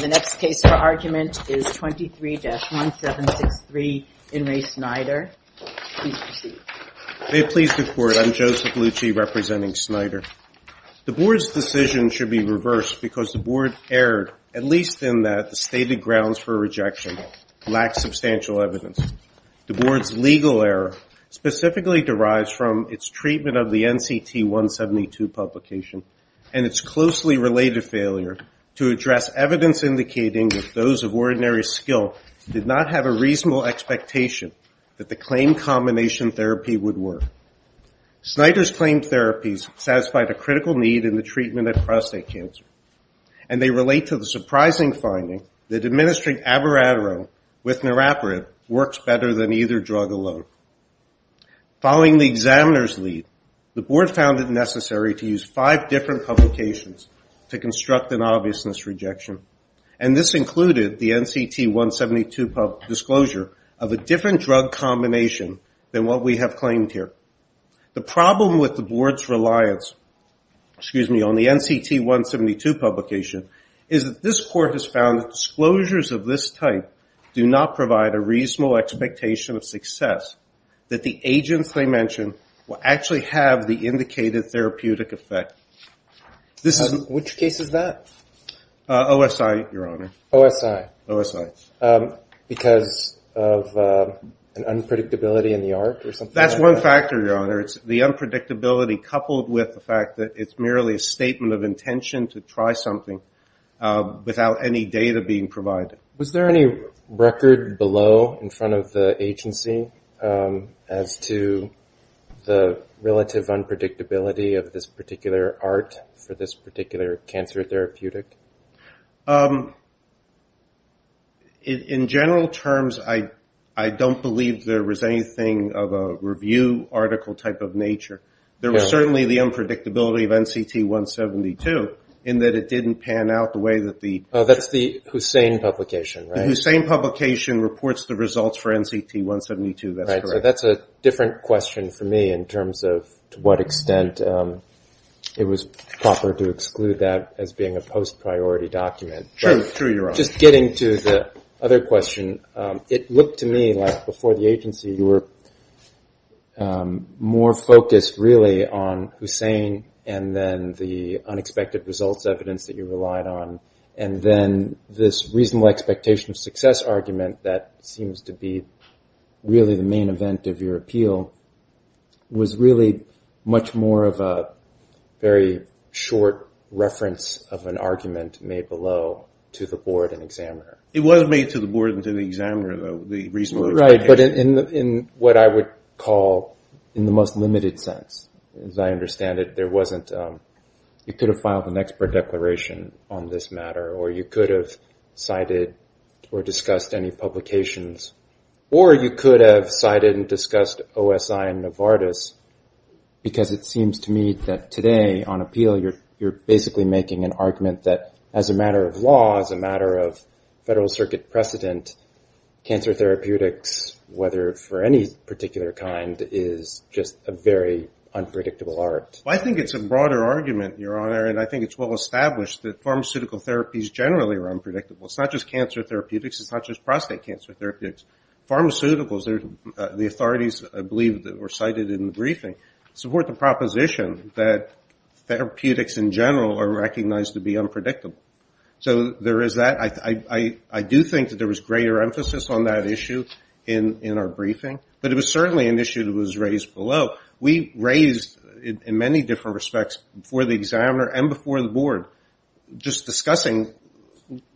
The next case for argument is 23-1763, In Re. Snyder, please proceed. May it please the Court, I'm Joseph Lucci representing Snyder. The Board's decision should be reversed because the Board erred, at least in that the stated grounds for rejection lack substantial evidence. The Board's legal error specifically derives from its treatment of the NCT-172 publication and its closely related failure to address evidence indicating that those of ordinary skill did not have a reasonable expectation that the claimed combination therapy would work. Snyder's claimed therapies satisfied a critical need in the treatment of prostate cancer, and they relate to the surprising finding that administering abiraterone with norepirate works better than either drug alone. Following the examiner's lead, the Board found it necessary to use five different publications to construct an obviousness rejection, and this included the NCT-172 disclosure of a different drug combination than what we have claimed here. The problem with the Board's reliance on the NCT-172 publication is that this Court has found that disclosures of this type do not provide a reasonable expectation of success that the agents they mention will actually have the indicated therapeutic effect. Which case is that? OSI, Your Honor. OSI. OSI. Because of an unpredictability in the art or something like that? That's one factor, Your Honor. The unpredictability coupled with the fact that it's merely a statement of intention to try something without any data being provided. Was there any record below in front of the agency as to the relative unpredictability of this particular art for this particular cancer therapeutic? In general terms, I don't believe there was anything of a review article type of nature. There was certainly the unpredictability of NCT-172 in that it didn't pan out the way that the... That's the Hussain publication, right? The Hussain publication reports the results for NCT-172, that's correct. Right, so that's a different question for me in terms of to what extent it was proper to exclude that as being a post-priority document. True, Your Honor. Just getting to the other question, it looked to me like before the agency you were more focused really on Hussain and then the unexpected results evidence that you relied on, and then this reasonable expectation of success argument that seems to be really the main event of your appeal was really much more of a very short reference of an argument made below to the board and examiner. It was made to the board and to the examiner, though, the reasonable expectation. In what I would call in the most limited sense, as I understand it, there wasn't... You could have filed an expert declaration on this matter, or you could have cited or discussed any publications, or you could have cited and discussed OSI and Novartis because it seems to me that today on appeal you're basically making an argument that as a matter of law, as a matter of Federal Circuit precedent, cancer therapeutics, whether for any particular kind, is just a very unpredictable art. I think it's a broader argument, Your Honor, and I think it's well established that pharmaceutical therapies generally are unpredictable. It's not just cancer therapeutics. It's not just prostate cancer therapeutics. Pharmaceuticals, the authorities I believe that were cited in the briefing support the proposition that therapeutics in general are recognized to be unpredictable. So there is that. I do think that there was greater emphasis on that issue in our briefing, but it was certainly an issue that was raised below. We raised in many different respects before the examiner and before the board just discussing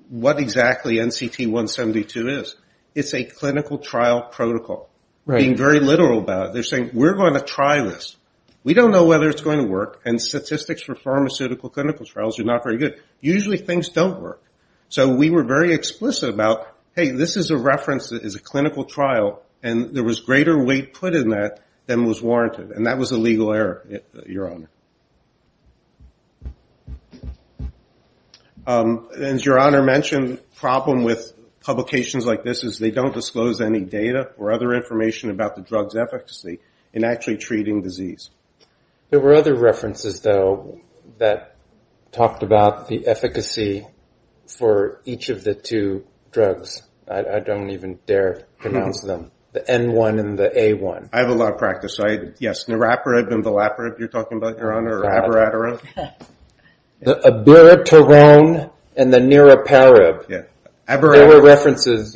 what exactly NCT-172 is. It's a clinical trial protocol. Being very literal about it, they're saying, we're going to try this. We don't know whether it's going to work, and statistics for pharmaceutical clinical trials are not very good. Usually things don't work. So we were very explicit about, hey, this is a reference that is a clinical trial, and there was greater weight put in that than was warranted, and that was a legal error, Your Honor. As Your Honor mentioned, the problem with publications like this is they don't disclose any data or other information about the drug's efficacy in actually treating disease. There were other references, though, that talked about the efficacy for each of the two drugs. I don't even dare pronounce them, the N1 and the A1. I have a lot of practice. Yes, niraparib and vilaparib, you're talking about, Your Honor, or abiraterone. The abiraterone and the niraparib. There were references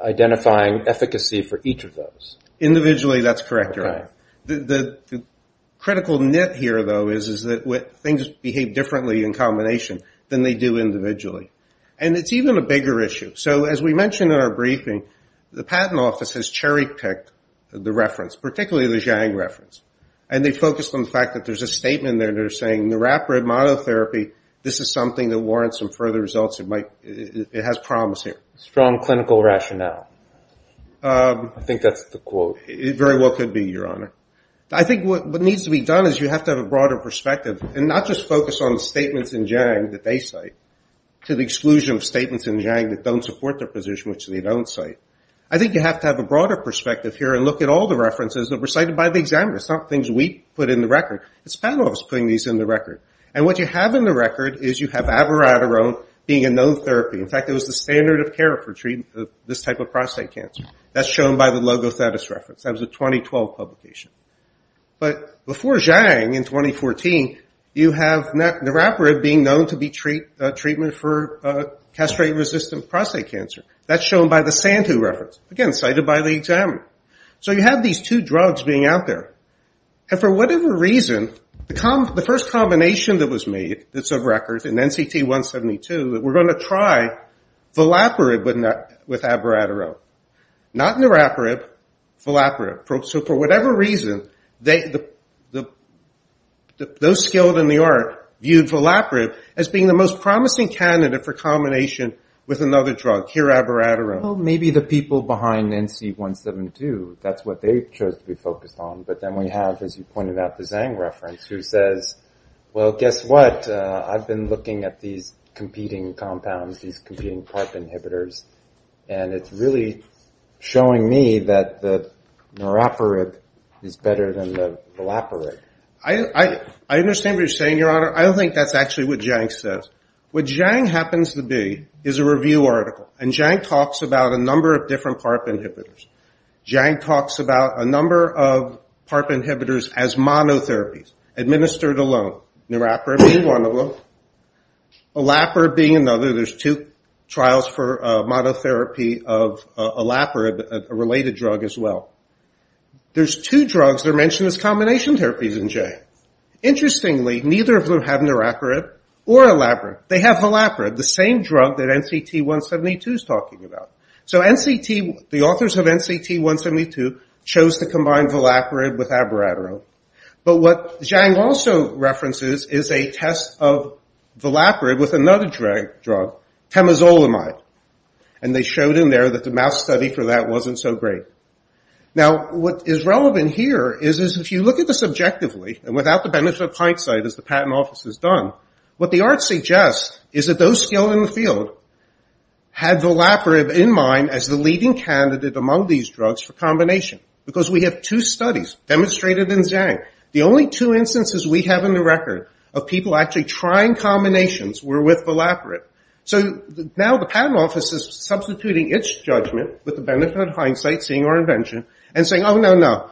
identifying efficacy for each of Individually, that's correct, Your Honor. The critical nit here, though, is that things behave differently in combination than they do individually, and it's even a bigger issue. So as we mentioned in our briefing, the Patent Office has cherry-picked the reference, particularly the Jiang reference, and they've focused on the fact that there's a statement there saying niraparib monotherapy, this is something that warrants some further results. It has promise here. Strong clinical rationale. I think that's the quote. Very well could be, Your Honor. I think what needs to be done is you have to have a broader perspective and not just focus on the statements in Jiang that they cite, to the exclusion of statements in Jiang that don't support their position, which they don't cite. I think you have to have a broader perspective here and look at all the references that were cited by the examiners, not things we put in the record. It's the Patent Office putting these in the record. And what you have in the record is you have abiraterone being a known therapy. In fact, it was the standard of care for treatment of this type of prostate cancer. That's shown by the Logothetis reference. That was a 2012 publication. But before Jiang in 2014, you have niraparib being known to be treatment for castrate-resistant prostate cancer. That's shown by the Santu reference. Again, cited by the examiner. So you have these two drugs being out there. And for whatever reason, the first combination that was made, that's of record in NCT 172, that we're going to try vilaparib with abiraterone. Not niraparib, vilaparib. So for whatever reason, those skilled in the art viewed vilaparib as being the most promising candidate for combination with another drug, kirabiraterone. Maybe the people behind NC 172, that's what they chose to be focused on. But then we have, as you pointed out, the Zhang reference, who says, well, guess what? I've been looking at these competing compounds, these competing PARP inhibitors, and it's really showing me that the niraparib is better than the vilaparib. I understand what you're saying, Your Honor. I don't think that's actually what Jiang says. What Jiang happens to be is a review article. And Jiang talks about a number of different PARP inhibitors as monotherapies, administered alone, niraparib being one of them, elaparib being another. There's two trials for monotherapy of elaparib, a related drug as well. There's two drugs that are mentioned as combination therapies in Jiang. Interestingly, neither of them have niraparib or elaparib. They have vilaparib, the same drug that NCT 172 is to combine vilaparib with abiraterone. But what Jiang also references is a test of vilaparib with another drug, temozolomide. And they showed in there that the mass study for that wasn't so great. Now what is relevant here is if you look at this objectively, and without the benefit of hindsight, as the Patent Office has done, what the art suggests is that those skilled in the field had vilaparib in mind as the leading candidate among these drugs for combination. Because we have two studies demonstrated in Jiang. The only two instances we have in the record of people actually trying combinations were with vilaparib. So now the Patent Office is substituting its judgment with the benefit of hindsight, seeing our invention, and saying, oh, no, no.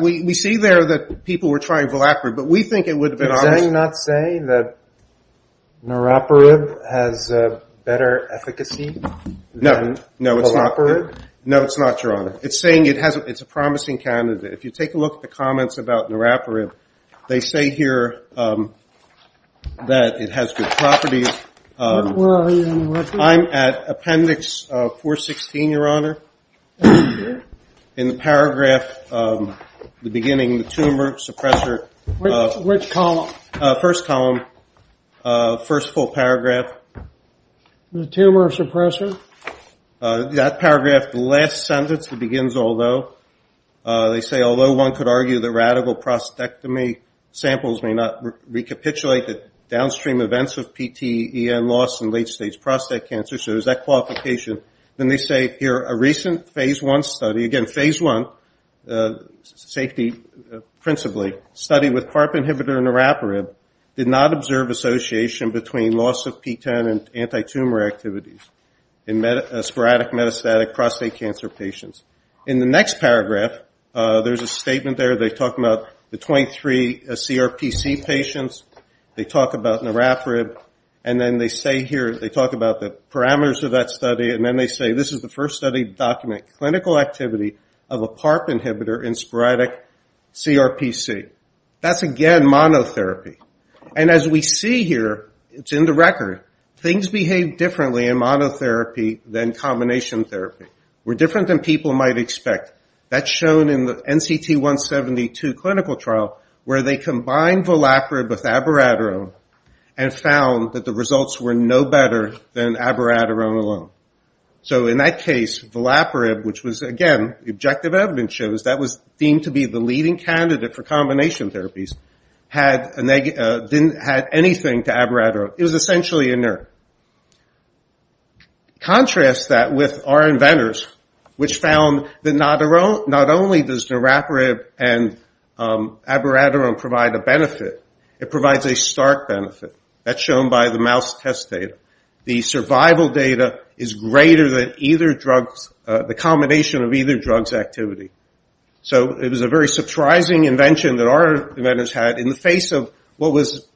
We see there that people were trying vilaparib, but we think it would have been honest. Is Jiang not saying that niraparib has better efficacy than vilaparib? No, it's not, Your Honor. It's saying it's a promising candidate. If you take a look at the comments about niraparib, they say here that it has good properties. I'm at appendix 416, Your Honor. In the paragraph, the beginning, the tumor suppressor. Which column? First column. First full paragraph. The tumor suppressor? That paragraph, the last sentence, it begins, although. They say, although one could argue that radical prostatectomy samples may not recapitulate the downstream events of PTEN loss in late stage prostate cancer. So there's that qualification. Then they say here, a recent phase one study, again, phase one, safety principally, study with PARP inhibitor niraparib, did not observe association between loss of PTEN and anti-tumor activities in sporadic metastatic prostate cancer patients. In the next paragraph, there's a statement there. They talk about the 23 CRPC patients. They talk about niraparib. And then they say here, they talk about the parameters of that study. And then they say, this is the first study to document clinical activity of a PARP inhibitor in sporadic CRPC. That's, again, monotherapy. And as we see here, it's in the record, things behave differently in monotherapy than combination therapy. We're different than people might expect. That's shown in the NCT172 clinical trial where they combined niraparib with abiraterone and found that the results were no better than abiraterone alone. So in that case, niraparib, which was, again, the objective evidence shows that was deemed to be the leading candidate for combination therapies, had anything to abiraterone. It was essentially inert. Contrast that with our inventors, which found that not only does niraparib and abiraterone provide a benefit, it provides a stark benefit. That's shown by the mouse test data. The survival was a very surprising invention that our inventors had in the face of what was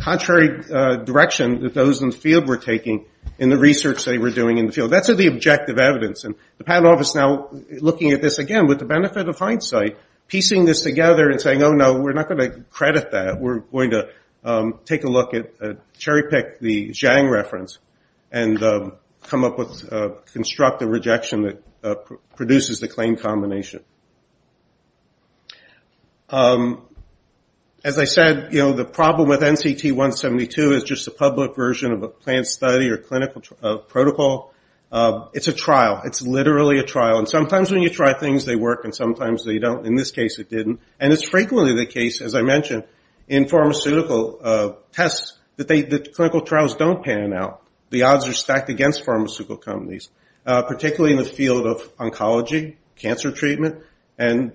contrary direction that those in the field were taking in the research they were doing in the field. That's the objective evidence. The panel is now looking at this, again, with the benefit of hindsight, piecing this together and saying, oh, no, we're not going to credit that. We're going to take a look at a cherry pick, the Zhang reference, and come up with a constructive rejection that produces the plain combination. As I said, the problem with NCT172 is just a public version of a plant study or clinical protocol. It's a trial. It's literally a trial. Sometimes when you try things, they work, and sometimes they don't. In this case, it didn't. It's frequently the case, as I mentioned, in pharmaceutical tests that clinical trials don't pan out. The odds are stacked against pharmaceutical companies, particularly in the field of oncology, cancer treatment.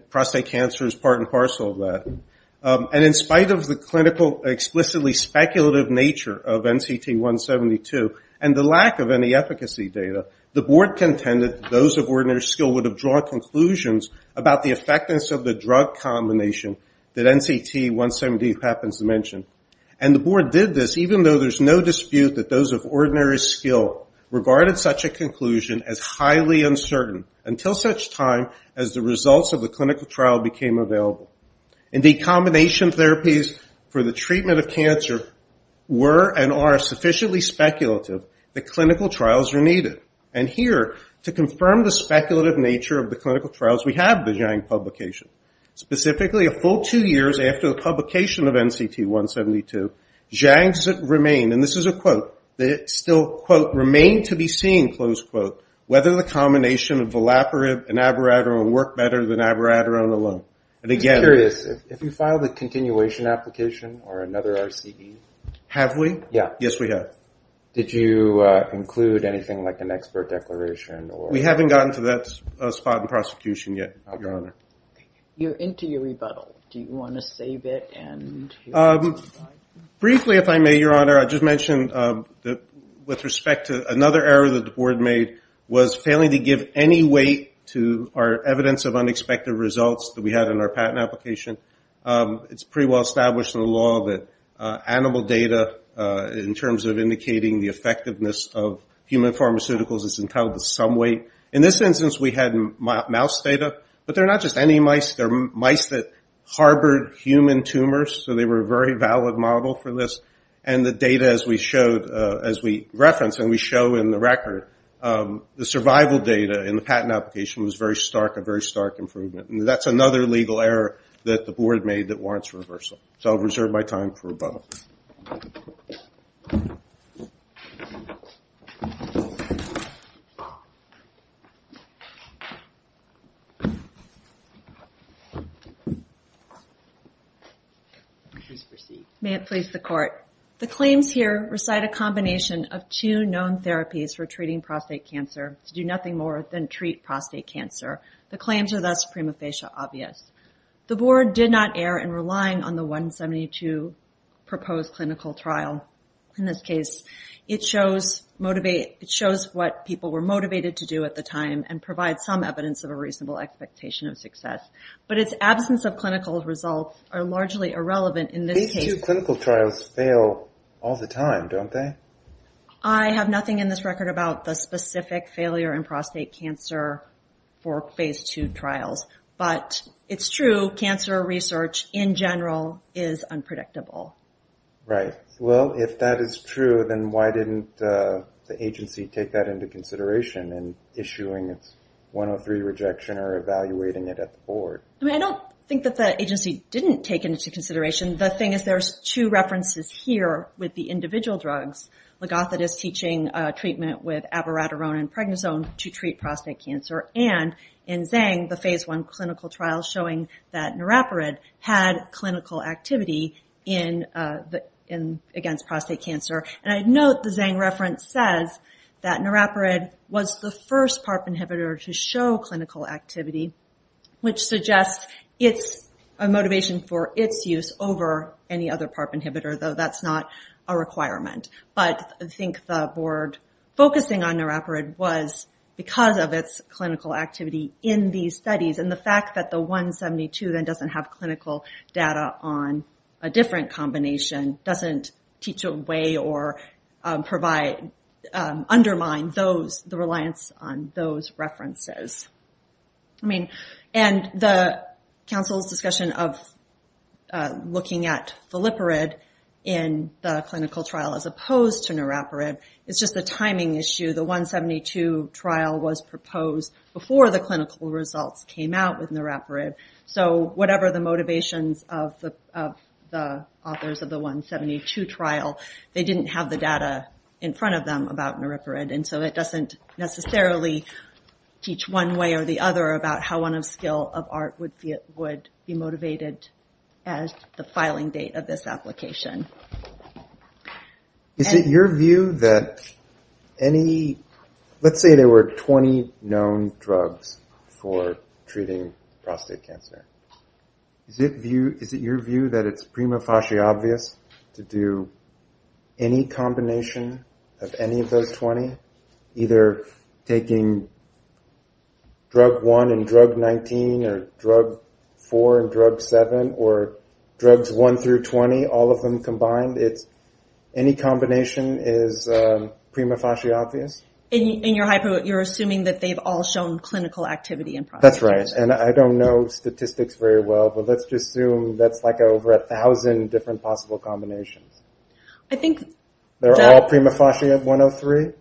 Prostate cancer is part and parcel of that. In spite of the clinical, explicitly speculative nature of NCT172 and the lack of any efficacy data, the board contended that those of ordinary skill would have drawn conclusions about the effectiveness of the drug combination that NCT172 happens to mention. The board did this even though there's no dispute that those of ordinary skill regarded such a conclusion as highly uncertain until such time as the results of the clinical trial became available. Indeed, combination therapies for the treatment of cancer were and are sufficiently speculative that clinical trials are needed. And here, to confirm the speculative nature of the clinical trials, we have the Zhang CT172. Zhang's remain, and this is a quote, they still, quote, remain to be seen, close quote, whether the combination of volaparib and abiraterone work better than abiraterone alone. And again- I'm curious, if you filed a continuation application or another RCE- Have we? Yeah. Yes, we have. Did you include anything like an expert declaration or- We haven't gotten to that spot in prosecution yet, Your Honor. You're into your rebuttal. Do you want to save it and- Briefly if I may, Your Honor, I just mentioned that with respect to another error that the board made was failing to give any weight to our evidence of unexpected results that we had in our patent application. It's pretty well established in the law that animal data, in terms of indicating the effectiveness of human pharmaceuticals, is entitled to some weight. In this instance, we had mouse data, but they're not just any mice. They're mice that harbored human tumors, so they were a very valid model for this. And the data, as we referenced and we show in the record, the survival data in the patent application was very stark, a very stark improvement. And that's another legal error that the board made that warrants reversal. So I'll reserve my time for rebuttal. Please proceed. May it please the court. The claims here recite a combination of two known therapies for treating prostate cancer to do nothing more than treat prostate cancer. The claims are thus prima facie obvious. The board did not err in relying on the 172 proposed clinical trial. In this case, it shows what people were motivated to do at the time and provides some evidence of a reasonable expectation of success. But its absence of clinical results are largely irrelevant in this case. Phase II clinical trials fail all the time, don't they? I have nothing in this record about the specific failure in prostate cancer for Phase II trials. But it's true, cancer research in general is unpredictable. Right. Well, if that is true, then why didn't the agency take that into consideration in issuing its 103 rejection or evaluating it at the board? I mean, I don't think that the agency didn't take it into consideration. The thing is, there's two references here with the individual drugs. Ligothetis teaching treatment with abiraterone and pregnazone to treat prostate cancer. And in Zhang, the Phase I clinical trial showing that norepirid had clinical activity against prostate cancer. And I note the Zhang reference says that norepirid was the first PARP inhibitor to show clinical activity, which suggests it's a motivation for its use over any other PARP inhibitor, though that's not a requirement. But I think the board focusing on norepirid was because of its clinical activity in these studies. And the fact that the 172 then doesn't have clinical data on a different combination doesn't teach a way or undermine the reliance on those references. And the council's discussion of looking at filipirid in the clinical trial as opposed to norepirid is just a timing issue. The 172 trial was proposed before the clinical results came out with norepirid. So whatever the motivations of the authors of the 172 trial, they didn't have the data in front of them about norepirid. And so it doesn't necessarily teach one way or the other about how one skill of art would be motivated as the filing date of this application. Is it your view that any, let's say there were 20 known drugs for treating prostate cancer. Is it your view that it's prima facie obvious to do any combination of any of those 20, either taking drug 1 and drug 19 or drug 4 and drug 7 or drugs 1 through 20, all of them combined? Any combination is prima facie obvious? In your hypo, you're assuming that they've all shown clinical activity in prostate cancer. That's right. And I don't know statistics very well, but let's just assume that's like over a thousand different possible combinations. They're all prima facie at 103?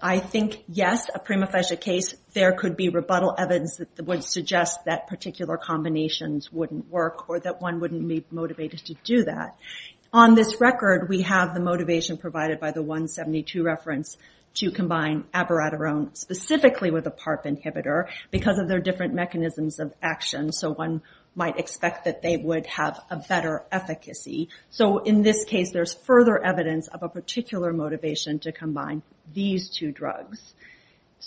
I think yes, a prima facie case, there could be rebuttal evidence that would suggest that particular combinations wouldn't work or that one wouldn't be motivated to do that. On this record, we have the motivation provided by the 172 reference to combine abiraterone specifically with a PARP inhibitor because of their different mechanisms of action. So one might expect that they would have a better efficacy. So in this case, there's further evidence of a particular motivation to combine these two drugs.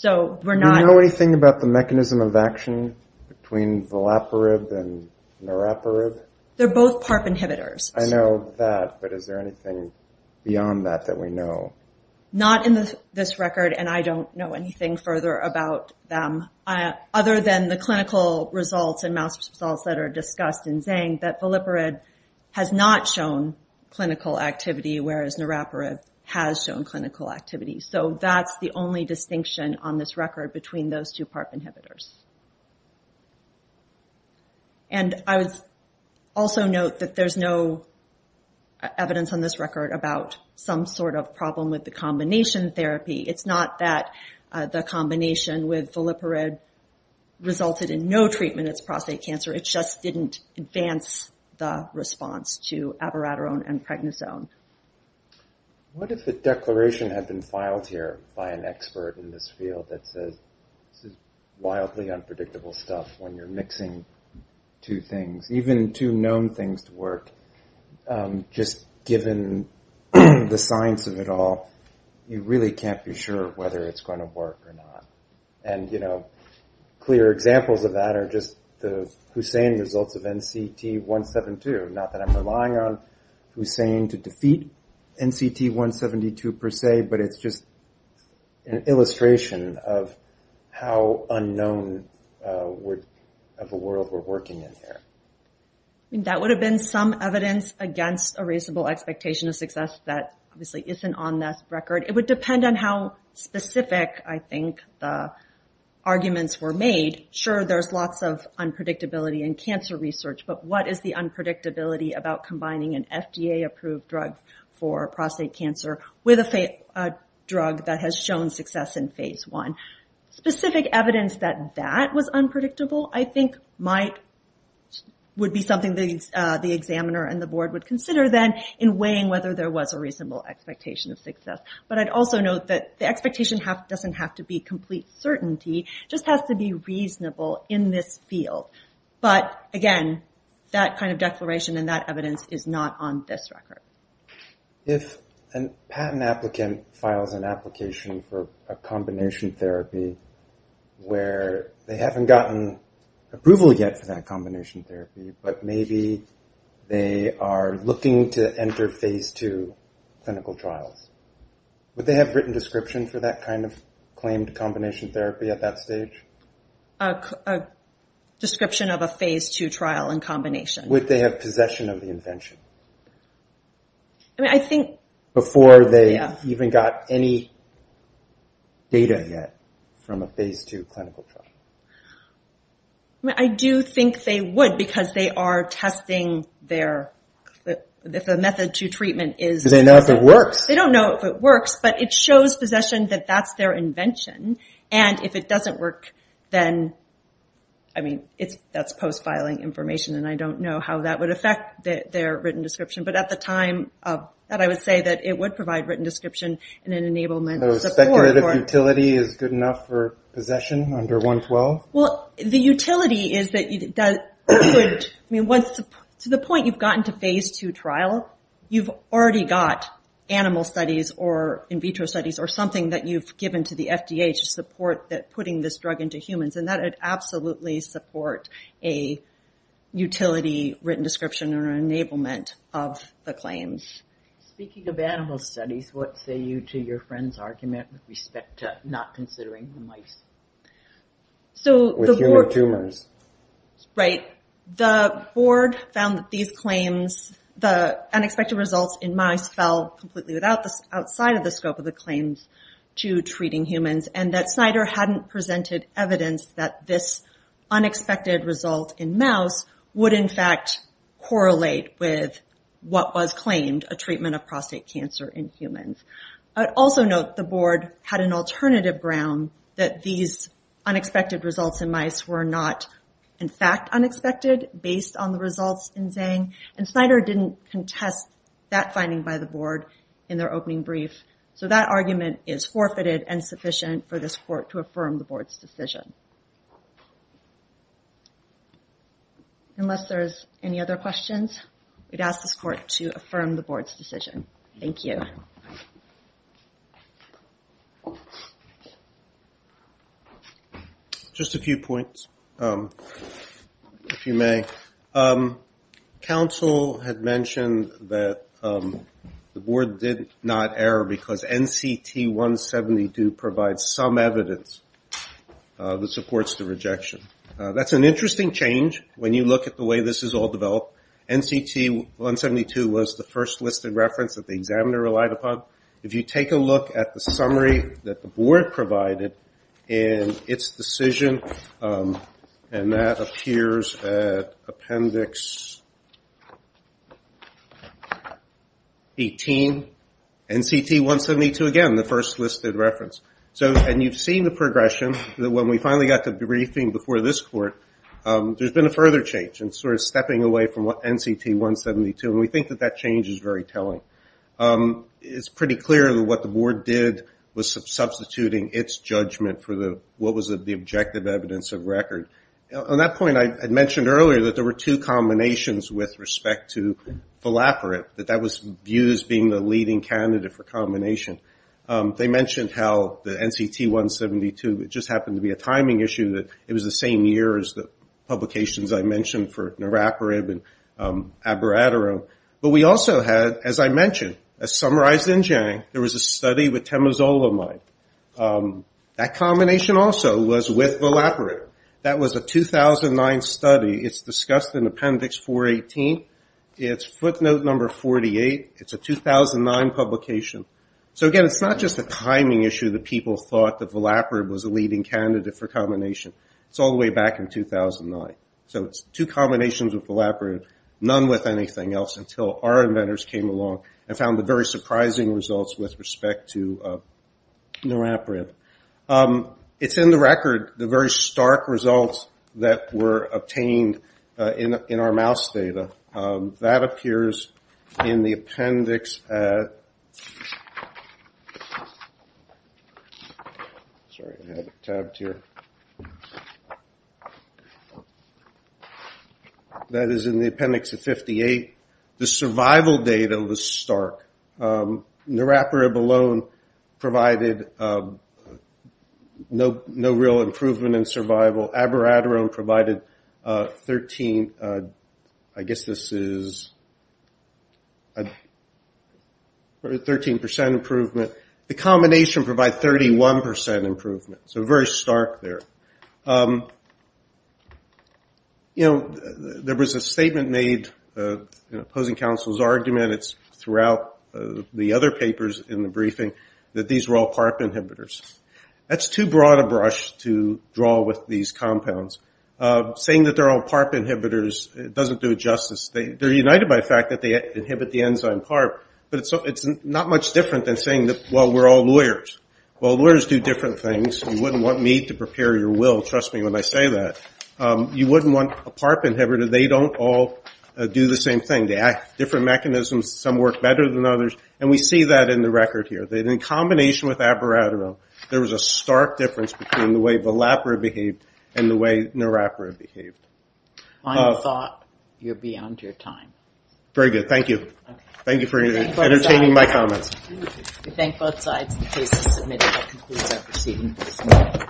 Do you know anything about the mechanism of action between vilaparib and niraparib? They're both PARP inhibitors. I know that, but is there anything beyond that that we know? Not in this record, and I don't know anything further about them other than the clinical results and mouse results that are discussed in saying that vilaparib has not shown clinical activity, whereas niraparib has shown clinical activity. So that's the only distinction on this record between those two PARP inhibitors. And I would also note that there's no evidence on this record about some sort of problem with the combination therapy. It's not that the combination with vilaparib resulted in no treatment in prostate cancer. It just didn't advance the response to abiraterone and pregnisone. What if a declaration had been filed here by an expert in this field that says, this is wildly unpredictable stuff when you're mixing two things, even two known things to work, just given the science of it all, you really can't be sure whether it's going to work or not. And clear examples of that are just the Hussain results of NCT172. Not that I'm relying on Hussain to defeat NCT172 per se, but it's just an illustration of how unknown of a world we're working in here. That would have been some evidence against a reasonable expectation of success that obviously isn't on this record. It would depend on how specific, I think, the arguments were made. Sure, there's lots of unpredictability in cancer research, but what is the unpredictability about combining an FDA-approved drug for prostate cancer with a drug that has shown success in phase one? Specific evidence that that was unpredictable, I think, would be something the examiner and the board would consider then in weighing whether there was a reasonable expectation of success. But I'd also note that the expectation doesn't have to be complete certainty, it just has to be reasonable in this field. But, again, that kind of declaration and that evidence is not on this record. If a patent applicant files an application for a combination therapy where they haven't gotten approval yet for that combination therapy, but maybe they are looking to enter phase two clinical trials, would they have written description for that kind of claimed combination therapy at that stage? A description of a phase two trial and combination. Would they have possession of the invention before they even got any data yet from a phase two clinical trial? I do think they would, because they are testing if the method to treatment is... Do they know if it works? They don't know if it works, but it shows possession that that's their invention. And if it doesn't work, then that's post-filing information, and I don't know how that would affect their written description. But at the time of that, I would say that it would provide written description in an enablement support. So speculative utility is good enough for possession under 112? Well, the utility is that you would... To the point you've gotten to phase two trial, you've already got animal studies or in vitro studies or something that you've given to the FDA to support putting this drug into humans, and that would absolutely support a utility written description or enablement of the claims. Speaking of animal studies, what say you to your friend's argument with respect to not considering the mice? So the board... Right. The board found that these claims, the unexpected results in mice fell completely without the... Outside of the scope of the claims to treating humans, and that Snyder hadn't presented evidence that this unexpected result in mouse would in fact correlate with what was claimed, a treatment of prostate cancer in humans. I would also note the board had an alternative ground that these unexpected results in mice were not in fact unexpected based on the results in Zang, and Snyder didn't contest that finding by the board in their opening brief. So that argument is forfeited and sufficient for this court to affirm the board's decision. Unless there's any other questions, we'd ask this court to affirm the board's decision. Thank you. Just a few points, if you may. Council had mentioned that the board did not err because NCT 172 provides some evidence that supports the rejection. That's an interesting change when you look at the way this is all developed. NCT 172 was the first listed reference that the examiner relied upon. If you take a look at the summary that the board provided in its decision, and that appears at appendix 18, NCT 172 again, the first listed reference. And you've seen the progression that when we finally got to the briefing before this court, there's been a further change in sort of stepping away from NCT 172, and we think that that change is very telling. It's pretty clear that what the board did was substituting its judgment for what was the objective evidence of record. On that point, I had mentioned earlier that there were two combinations with respect to Falaparib, that that was viewed as being the leading candidate for combination. They mentioned how the NCT 172, it just happened to be a timing issue, that it was the same year as the publications I mentioned for Naraparib and Abiratero. But we also had, as I mentioned, as summarized in Jang, there was a study with Temozolomide. That combination also was with Falaparib. That was a 2009 study. It's discussed in appendix 418. It's footnote number 48. It's a 2009 publication. So again, it's not just a timing issue that people thought that Falaparib was a leading candidate for combination. It's all the way back in 2009. So it's two combinations with Falaparib, none with anything else, until our inventors came along and found the very surprising results with respect to Naraparib. It's in the record, the very stark results that were obtained in our mouse data. That was stark. Naraparib alone provided no real improvement in survival. Abiratero provided 13, I guess this is, 13% improvement. The combination provided 31% improvement. So very surprising. That's too broad a brush to draw with these compounds. Saying that they're all PARP inhibitors doesn't do it justice. They're united by the fact that they inhibit the enzyme PARP. But it's not much different than saying, well, we're all lawyers. Well, lawyers do different things. You wouldn't want me to prepare your will, trust me when I say that. You wouldn't want a PARP inhibitor. They don't all do the same thing. They have different mechanisms. Some work better than others. And we see that in the record here. That in combination with Abiratero, there was a stark difference between the way Falaparib behaved and the way Naraparib behaved. I thought you were beyond your time. Very good. Thank you. Thank you for entertaining my comments. We thank both sides. The case is submitted. That concludes our proceedings.